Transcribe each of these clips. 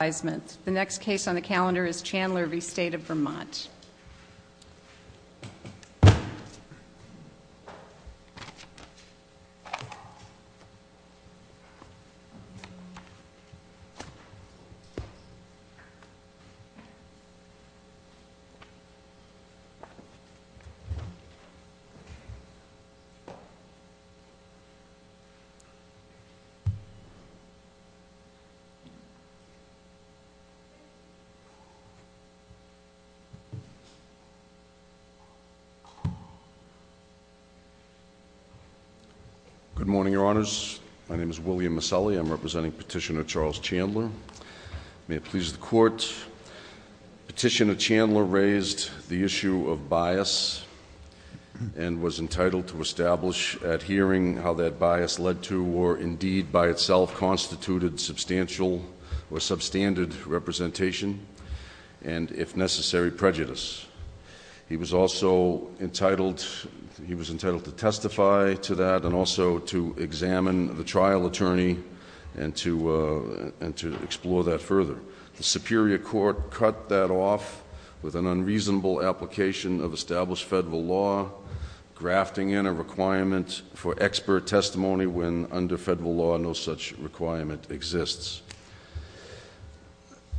The next case on the calendar is Chandler v. State of Vermont. William Miscelli v. Petitioner Charles Chandler Good morning, Your Honors. My name is William Miscelli. I'm representing Petitioner Charles Chandler. May it please the Court, Petitioner Chandler raised the issue of bias and was entitled to establish adhering how that bias led to or indeed by itself constituted substantial or substandard representation and, if necessary, prejudice. He was also entitled to testify to that and also to examine the trial attorney and to explore that further. The Superior Court cut that off with an unreasonable application of established federal law, grafting in a requirement for expert testimony when under federal law no such requirement exists.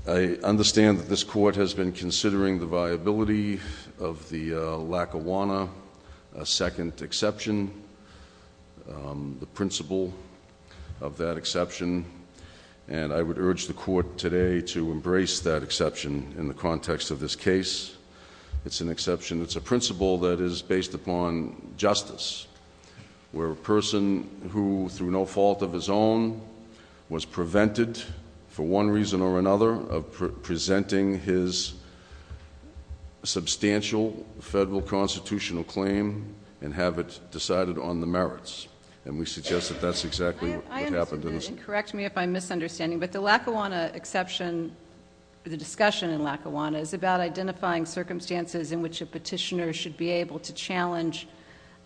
I understand that this Court has been considering the viability of the Lackawanna second exception, the principle of that exception, and I would urge the Court today to embrace that exception in the context of this case. It's an exception. It's a principle that is based upon justice, where a person who, through no fault of his own, was prevented for one reason or another of presenting his substantial federal constitutional claim and have it decided on the merits. And we suggest that that's exactly what happened in this case. Correct me if I'm misunderstanding, but the Lackawanna exception, the discussion in Lackawanna, is about identifying circumstances in which a petitioner should be able to challenge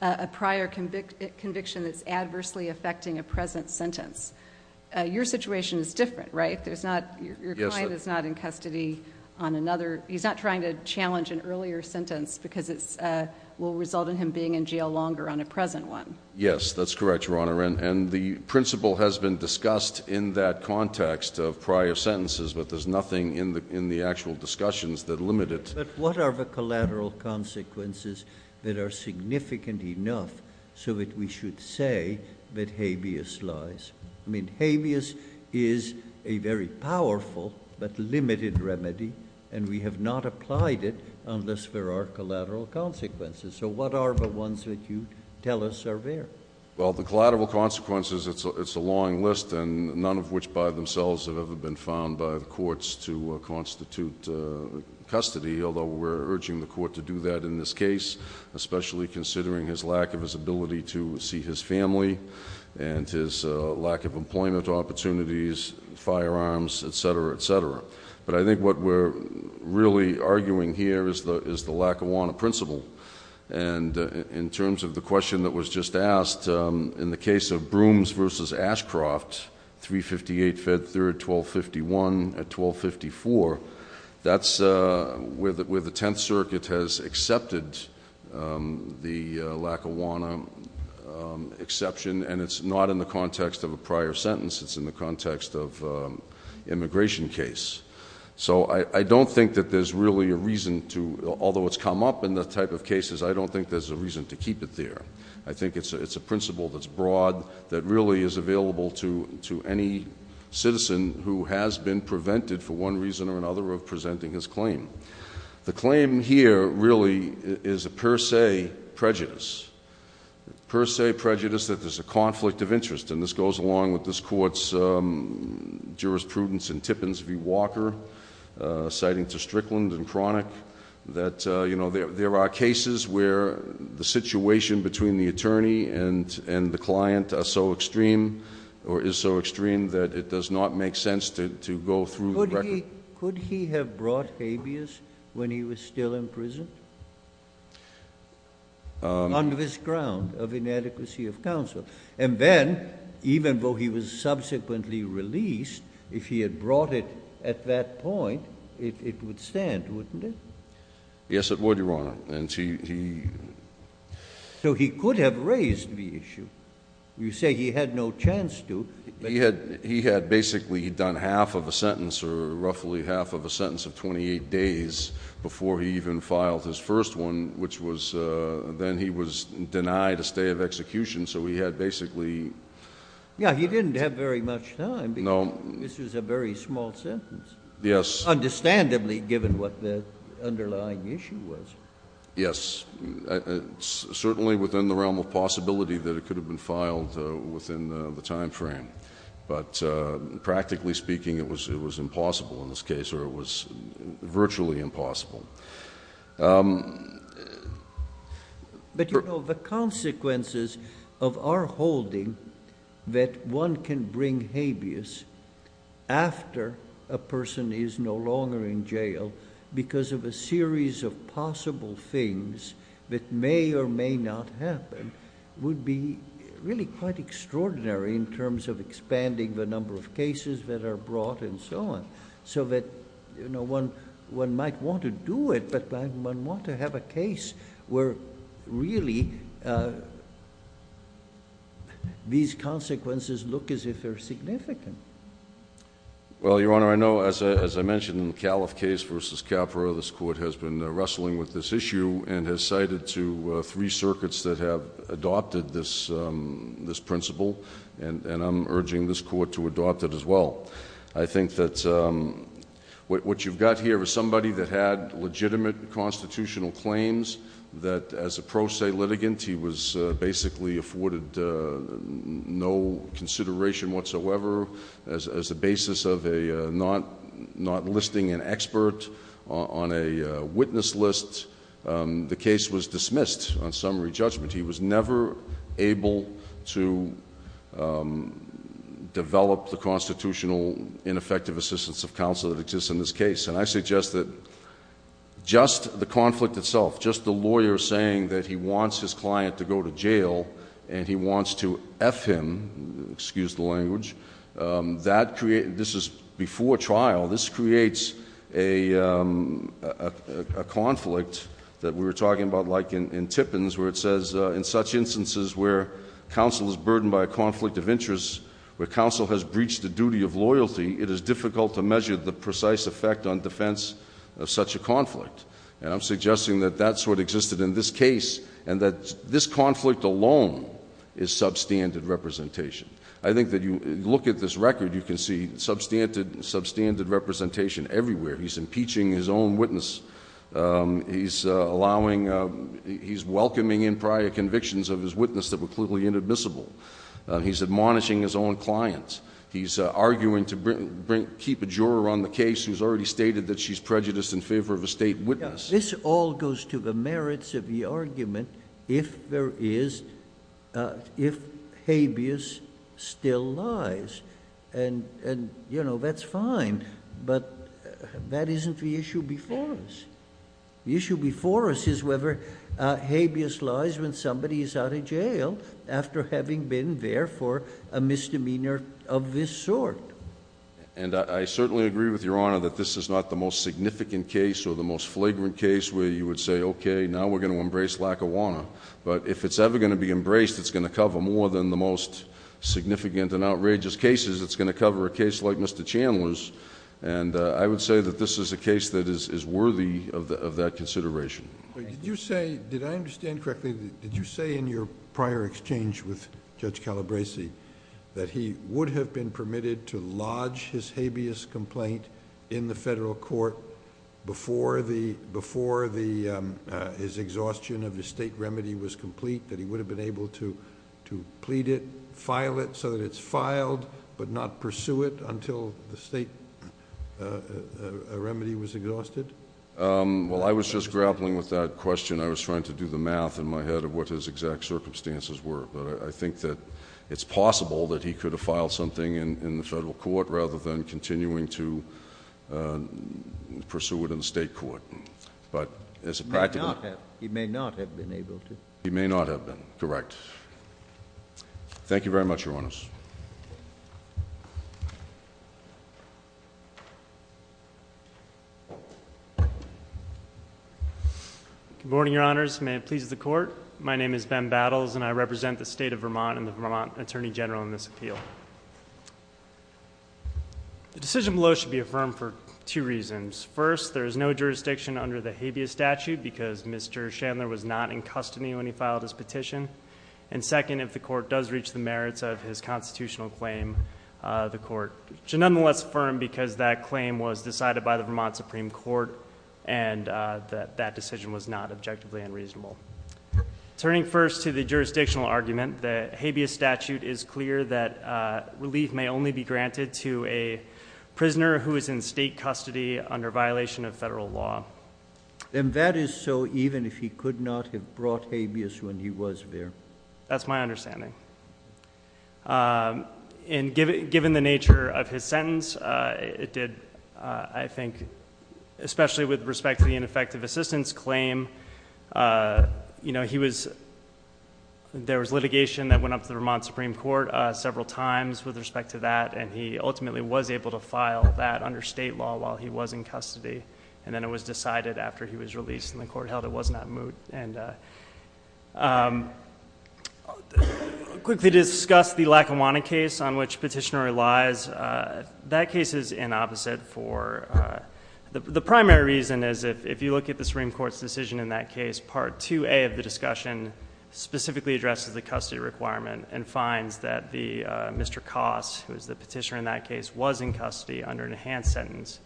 a prior conviction that's adversely affecting a present sentence. Your situation is different, right? Your client is not in custody on another. He's not trying to challenge an earlier sentence because it will result in him being in jail longer on a present one. Yes, that's correct, Your Honor, and the principle has been discussed in that context of prior sentences, but there's nothing in the actual discussions that limit it. But what are the collateral consequences that are significant enough so that we should say that habeas lies? I mean, habeas is a very powerful but limited remedy, and we have not applied it unless there are collateral consequences. So what are the ones that you tell us are there? Well, the collateral consequences, it's a long list, and none of which by themselves have ever been found by the courts to constitute custody, although we're urging the court to do that in this case, especially considering his lack of his ability to see his family and his lack of employment opportunities, firearms, et cetera, et cetera. But I think what we're really arguing here is the Lackawanna principle, and in terms of the question that was just asked, in the case of Brooms v. Ashcroft, 358 Fed 3rd, 1251 at 1254, that's where the Tenth Circuit has accepted the Lackawanna exception, and it's not in the context of a prior sentence, it's in the context of an immigration case. So I don't think that there's really a reason to, although it's come up in the type of cases, I don't think there's a reason to keep it there. I think it's a principle that's broad that really is available to any citizen who has been prevented for one reason or another of presenting his claim. The claim here really is a per se prejudice, a per se prejudice that there's a conflict of interest, and this goes along with this court's jurisprudence in Tippins v. Walker, citing to Strickland and Cronick, that there are cases where the situation between the attorney and the client is so extreme that it does not make sense to go through the record. Could he have brought habeas when he was still in prison on this ground of inadequacy of counsel? And then, even though he was subsequently released, if he had brought it at that point, it would stand, wouldn't it? Yes, it would, Your Honor. So he could have raised the issue. You say he had no chance to. He had basically done half of a sentence or roughly half of a sentence of 28 days before he even filed his first one, which was then he was denied a stay of execution. So he had basically... Yeah, he didn't have very much time. No. This is a very small sentence. Yes. Understandably, given what the underlying issue was. Yes, certainly within the realm of possibility that it could have been filed within the time frame. But practically speaking, it was impossible in this case, or it was virtually impossible. But, you know, the consequences of our holding that one can bring habeas after a person is no longer in jail because of a series of possible things that may or may not happen would be really quite extraordinary in terms of expanding the number of cases that are brought and so on. So that, you know, one might want to do it, but one might want to have a case where really these consequences look as if they're significant. Well, Your Honor, I know as I mentioned in the Califf case versus Capra, this Court has been wrestling with this issue and has cited to three circuits that have adopted this principle. And I'm urging this Court to adopt it as well. I think that what you've got here is somebody that had legitimate constitutional claims that as a pro se litigant, he was basically afforded no consideration whatsoever as a basis of not listing an expert on a witness list. The case was dismissed on summary judgment. He was never able to develop the constitutional ineffective assistance of counsel that exists in this case. And I suggest that just the conflict itself, just the lawyer saying that he wants his client to go to jail and he wants to F him, excuse the language, this is before trial. This creates a conflict that we were talking about like in Tippins where it says, in such instances where counsel is burdened by a conflict of interest, where counsel has breached the duty of loyalty, it is difficult to measure the precise effect on defense of such a conflict. And I'm suggesting that that's what existed in this case and that this conflict alone is substandard representation. I think that you look at this record, you can see substandard representation everywhere. He's impeaching his own witness. He's allowing, he's welcoming in prior convictions of his witness that were clearly inadmissible. He's admonishing his own clients. He's arguing to keep a juror on the case who's already stated that she's prejudiced in favor of a state witness. This all goes to the merits of the argument if there is, if habeas still lies. And, you know, that's fine, but that isn't the issue before us. The issue before us is whether habeas lies when somebody is out of jail after having been there for a misdemeanor of this sort. And I certainly agree with Your Honor that this is not the most significant case or the most flagrant case where you would say, okay, now we're going to embrace Lackawanna. But if it's ever going to be embraced, it's going to cover more than the most significant and outrageous cases. It's going to cover a case like Mr. Chandler's. And I would say that this is a case that is worthy of that consideration. Okay. Did you say, did I understand correctly, did you say in your prior exchange with Judge Calabresi that he would have been permitted to lodge his habeas complaint in the federal court before his exhaustion of the state remedy was complete? That he would have been able to plead it, file it so that it's filed but not pursue it until the state remedy was exhausted? Well, I was just grappling with that question. I was trying to do the math in my head of what his exact circumstances were. But I think that it's possible that he could have filed something in the federal court rather than continuing to pursue it in the state court. But as a practical— He may not have been able to. He may not have been. Correct. Thank you very much, Your Honors. Good morning, Your Honors. May it please the court. My name is Ben Battles and I represent the state of Vermont and the Vermont Attorney General in this appeal. The decision below should be affirmed for two reasons. First, there is no jurisdiction under the habeas statute because Mr. Chandler was not in custody when he filed his petition. And second, if the court does reach the merits of his constitutional claim, the court should nonetheless affirm because that claim was decided by the Vermont Supreme Court and that that decision was not objectively unreasonable. Turning first to the jurisdictional argument, the habeas statute is clear that relief may only be granted to a prisoner who is in state custody under violation of federal law. And that is so even if he could not have brought habeas when he was there? That's my understanding. And given the nature of his sentence, it did, I think, especially with respect to the ineffective assistance claim, you know, he was—there was litigation that went up to the Vermont Supreme Court several times with respect to that, and he ultimately was able to file that under state law while he was in custody, and then it was decided after he was released and the court held it was not moot. And I'll quickly discuss the Lackawanna case on which petitioner relies. That case is inopposite for—the primary reason is if you look at the Supreme Court's decision in that case, Part 2A of the discussion specifically addresses the custody requirement and finds that Mr. Koss, who was the petitioner in that case, was in custody under an enhanced sentence,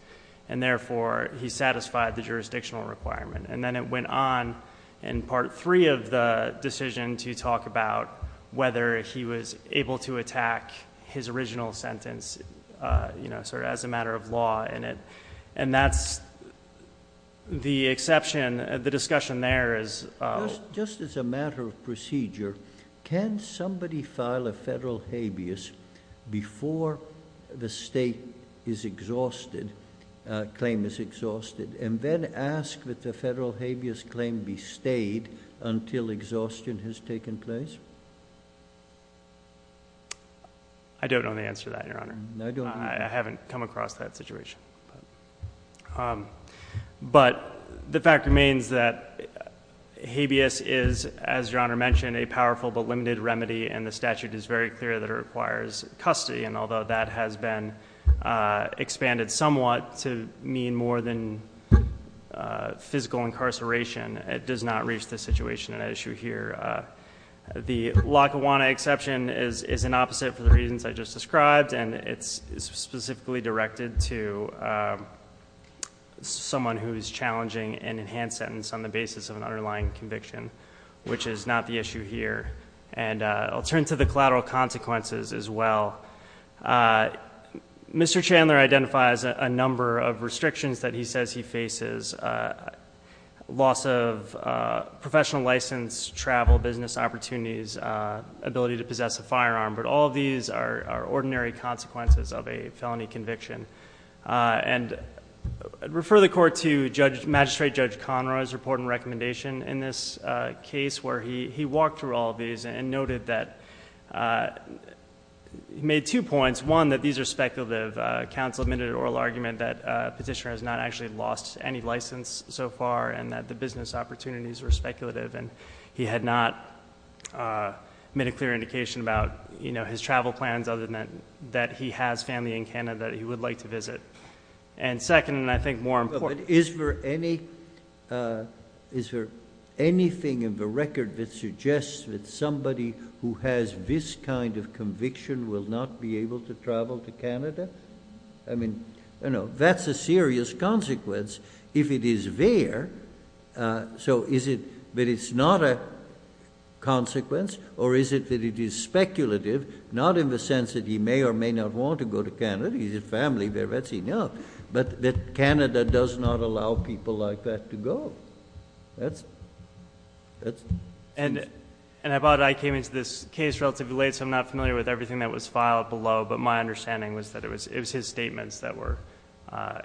and therefore he satisfied the jurisdictional requirement. And then it went on in Part 3 of the decision to talk about whether he was able to attack his original sentence, you know, sort of as a matter of law, and that's the exception—the discussion there is— Just as a matter of procedure, can somebody file a federal habeas before the state is exhausted, claim is exhausted, and then ask that the federal habeas claim be stayed until exhaustion has taken place? I don't know the answer to that, Your Honor. I haven't come across that situation. But the fact remains that habeas is, as Your Honor mentioned, a powerful but limited remedy, and the statute is very clear that it requires custody, and although that has been expanded somewhat to mean more than physical incarceration, it does not reach the situation at issue here. The Lackawanna exception is inopposite for the reasons I just described, and it's specifically directed to someone who is challenging an enhanced sentence on the basis of an underlying conviction, which is not the issue here. And I'll turn to the collateral consequences as well. Mr. Chandler identifies a number of restrictions that he says he faces, loss of professional license, travel, business opportunities, ability to possess a firearm, but all of these are ordinary consequences of a felony conviction. And I'd refer the Court to Magistrate Judge Conroy's report and recommendation in this case where he walked through all of these and noted that he made two points. One, that these are speculative. Counsel admitted an oral argument that Petitioner has not actually lost any license so far and that the business opportunities were speculative, and he had not made a clear indication about his travel plans other than that he has family in Canada that he would like to visit. And second, and I think more important- Is there anything in the record that suggests that somebody who has this kind of conviction will not be able to travel to Canada? I mean, that's a serious consequence if it is there. So is it that it's not a consequence, or is it that it is speculative, not in the sense that he may or may not want to go to Canada? He has family there, that's enough. But that Canada does not allow people like that to go. That's it. And I came into this case relatively late, so I'm not familiar with everything that was filed below, but my understanding was that it was his statements that were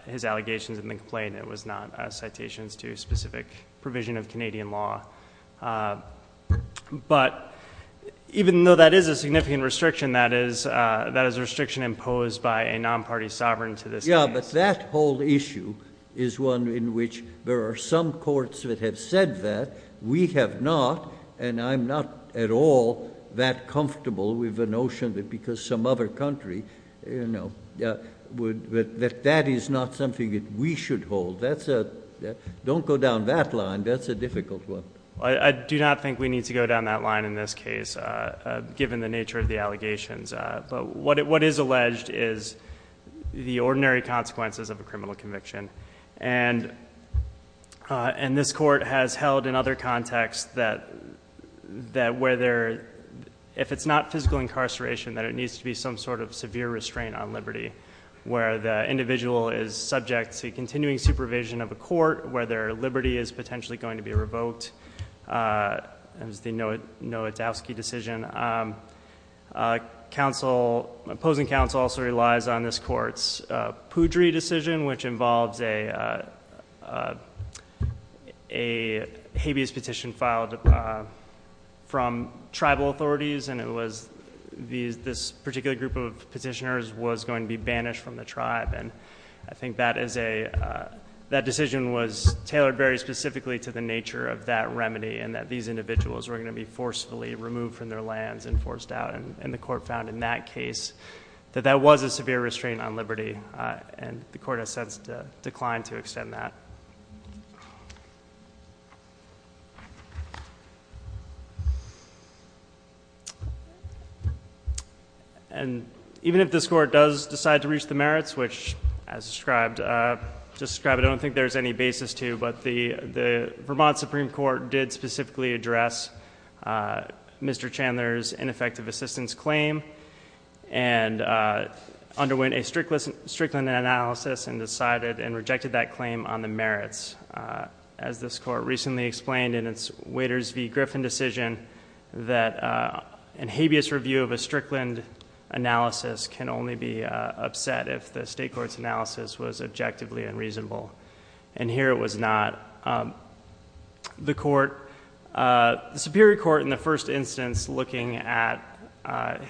his allegations, and the complaint was not citations to specific provision of Canadian law. But even though that is a significant restriction, that is a restriction imposed by a non-party sovereign to this case. Yeah, but that whole issue is one in which there are some courts that have said that we have not, and I'm not at all that comfortable with the notion that because some other country, you know, that that is not something that we should hold. Don't go down that line, that's a difficult one. I do not think we need to go down that line in this case, given the nature of the allegations. But what is alleged is the ordinary consequences of a criminal conviction, and this court has held in other contexts that if it's not physical incarceration, that it needs to be some sort of severe restraint on liberty, where the individual is subject to continuing supervision of a court, where their liberty is potentially going to be revoked, as the Nowitzowski decision. Opposing counsel also relies on this court's Poudry decision, which involves a habeas petition filed from tribal authorities, and it was this particular group of petitioners was going to be banished from the tribe, and I think that decision was tailored very specifically to the nature of that remedy, and that these individuals were going to be forcefully removed from their lands and forced out, and the court found in that case that that was a severe restraint on liberty, and the court has since declined to extend that. And even if this court does decide to reach the merits, which as described, I don't think there's any basis to, but the Vermont Supreme Court did specifically address Mr. Chandler's ineffective assistance claim and underwent a Strickland analysis and decided and rejected that claim on the merits. As this court recently explained in its Waiters v. Griffin decision, that a habeas review of a Strickland analysis can only be upset if the state court's analysis was objectively unreasonable, and here it was not. The court, the Superior Court in the first instance looking at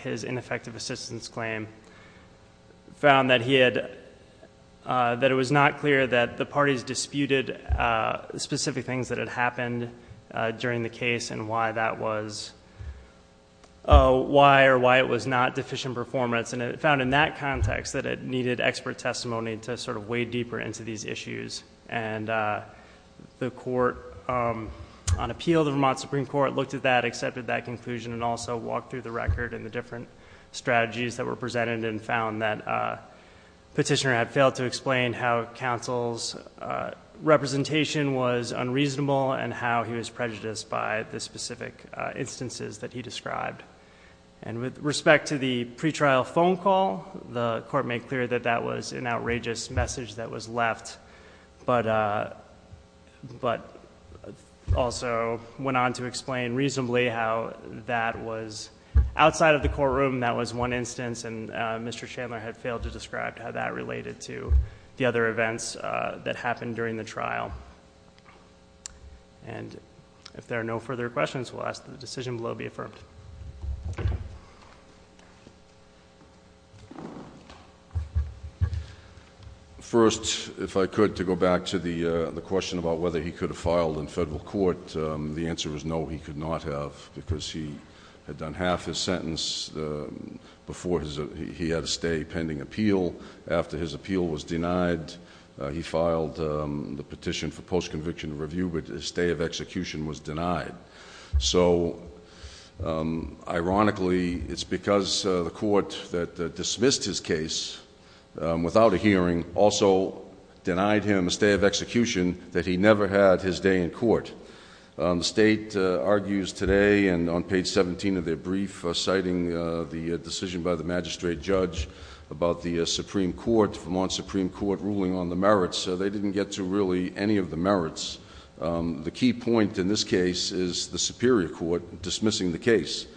his ineffective assistance claim, found that he had, that it was not clear that the parties disputed specific things that had happened during the case and why that was, why or why it was not deficient performance, and it found in that context that it needed expert testimony to sort of wade deeper into these issues, and the court on appeal, the Vermont Supreme Court, looked at that, accepted that conclusion, and also walked through the record and the different strategies that were presented and found that Petitioner had failed to explain how counsel's representation was unreasonable and how he was prejudiced by the specific instances that he described. And with respect to the pretrial phone call, the court made clear that that was an outrageous message that was left, but also went on to explain reasonably how that was outside of the courtroom, that was one instance, and Mr. Chandler had failed to describe how that related to the other events that happened during the trial. And if there are no further questions, we'll ask that the decision below be affirmed. First, if I could, to go back to the question about whether he could have filed in federal court, the answer is no, he could not have because he had done half his sentence before he had a stay pending appeal. After his appeal was denied, he filed the petition for post-conviction review, but his stay of execution was denied. So, ironically, it's because the court that dismissed his case without a hearing also denied him a stay of execution that he never had his day in court. The state argues today and on page 17 of their brief citing the decision by the magistrate judge about the Supreme Court, Vermont Supreme Court ruling on the merits, they didn't get to really any of the merits. The key point in this case is the superior court dismissing the case.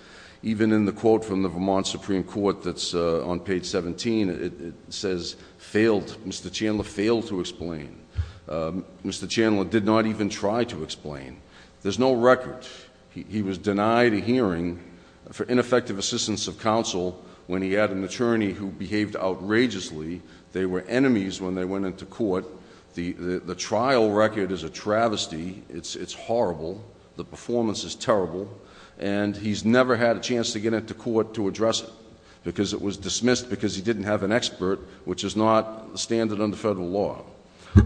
Even in the quote from the Vermont Supreme Court that's on page 17, it says, Mr. Chandler failed to explain. Mr. Chandler did not even try to explain. There's no record. He was denied a hearing for ineffective assistance of counsel when he had an attorney who behaved outrageously. They were enemies when they went into court. The trial record is a travesty. It's horrible. The performance is terrible. And he's never had a chance to get into court to address it because it was dismissed because he didn't have an expert, which is not standard under federal law.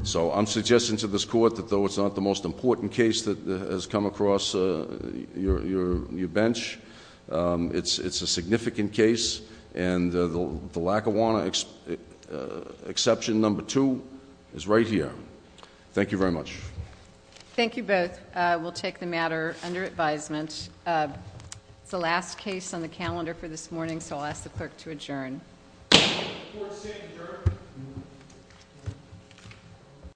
So I'm suggesting to this court that though it's not the most important case that has come across your bench, it's a significant case, and the Lackawanna exception number two is right here. Thank you very much. Thank you both. We'll take the matter under advisement. It's the last case on the calendar for this morning, so I'll ask the clerk to adjourn.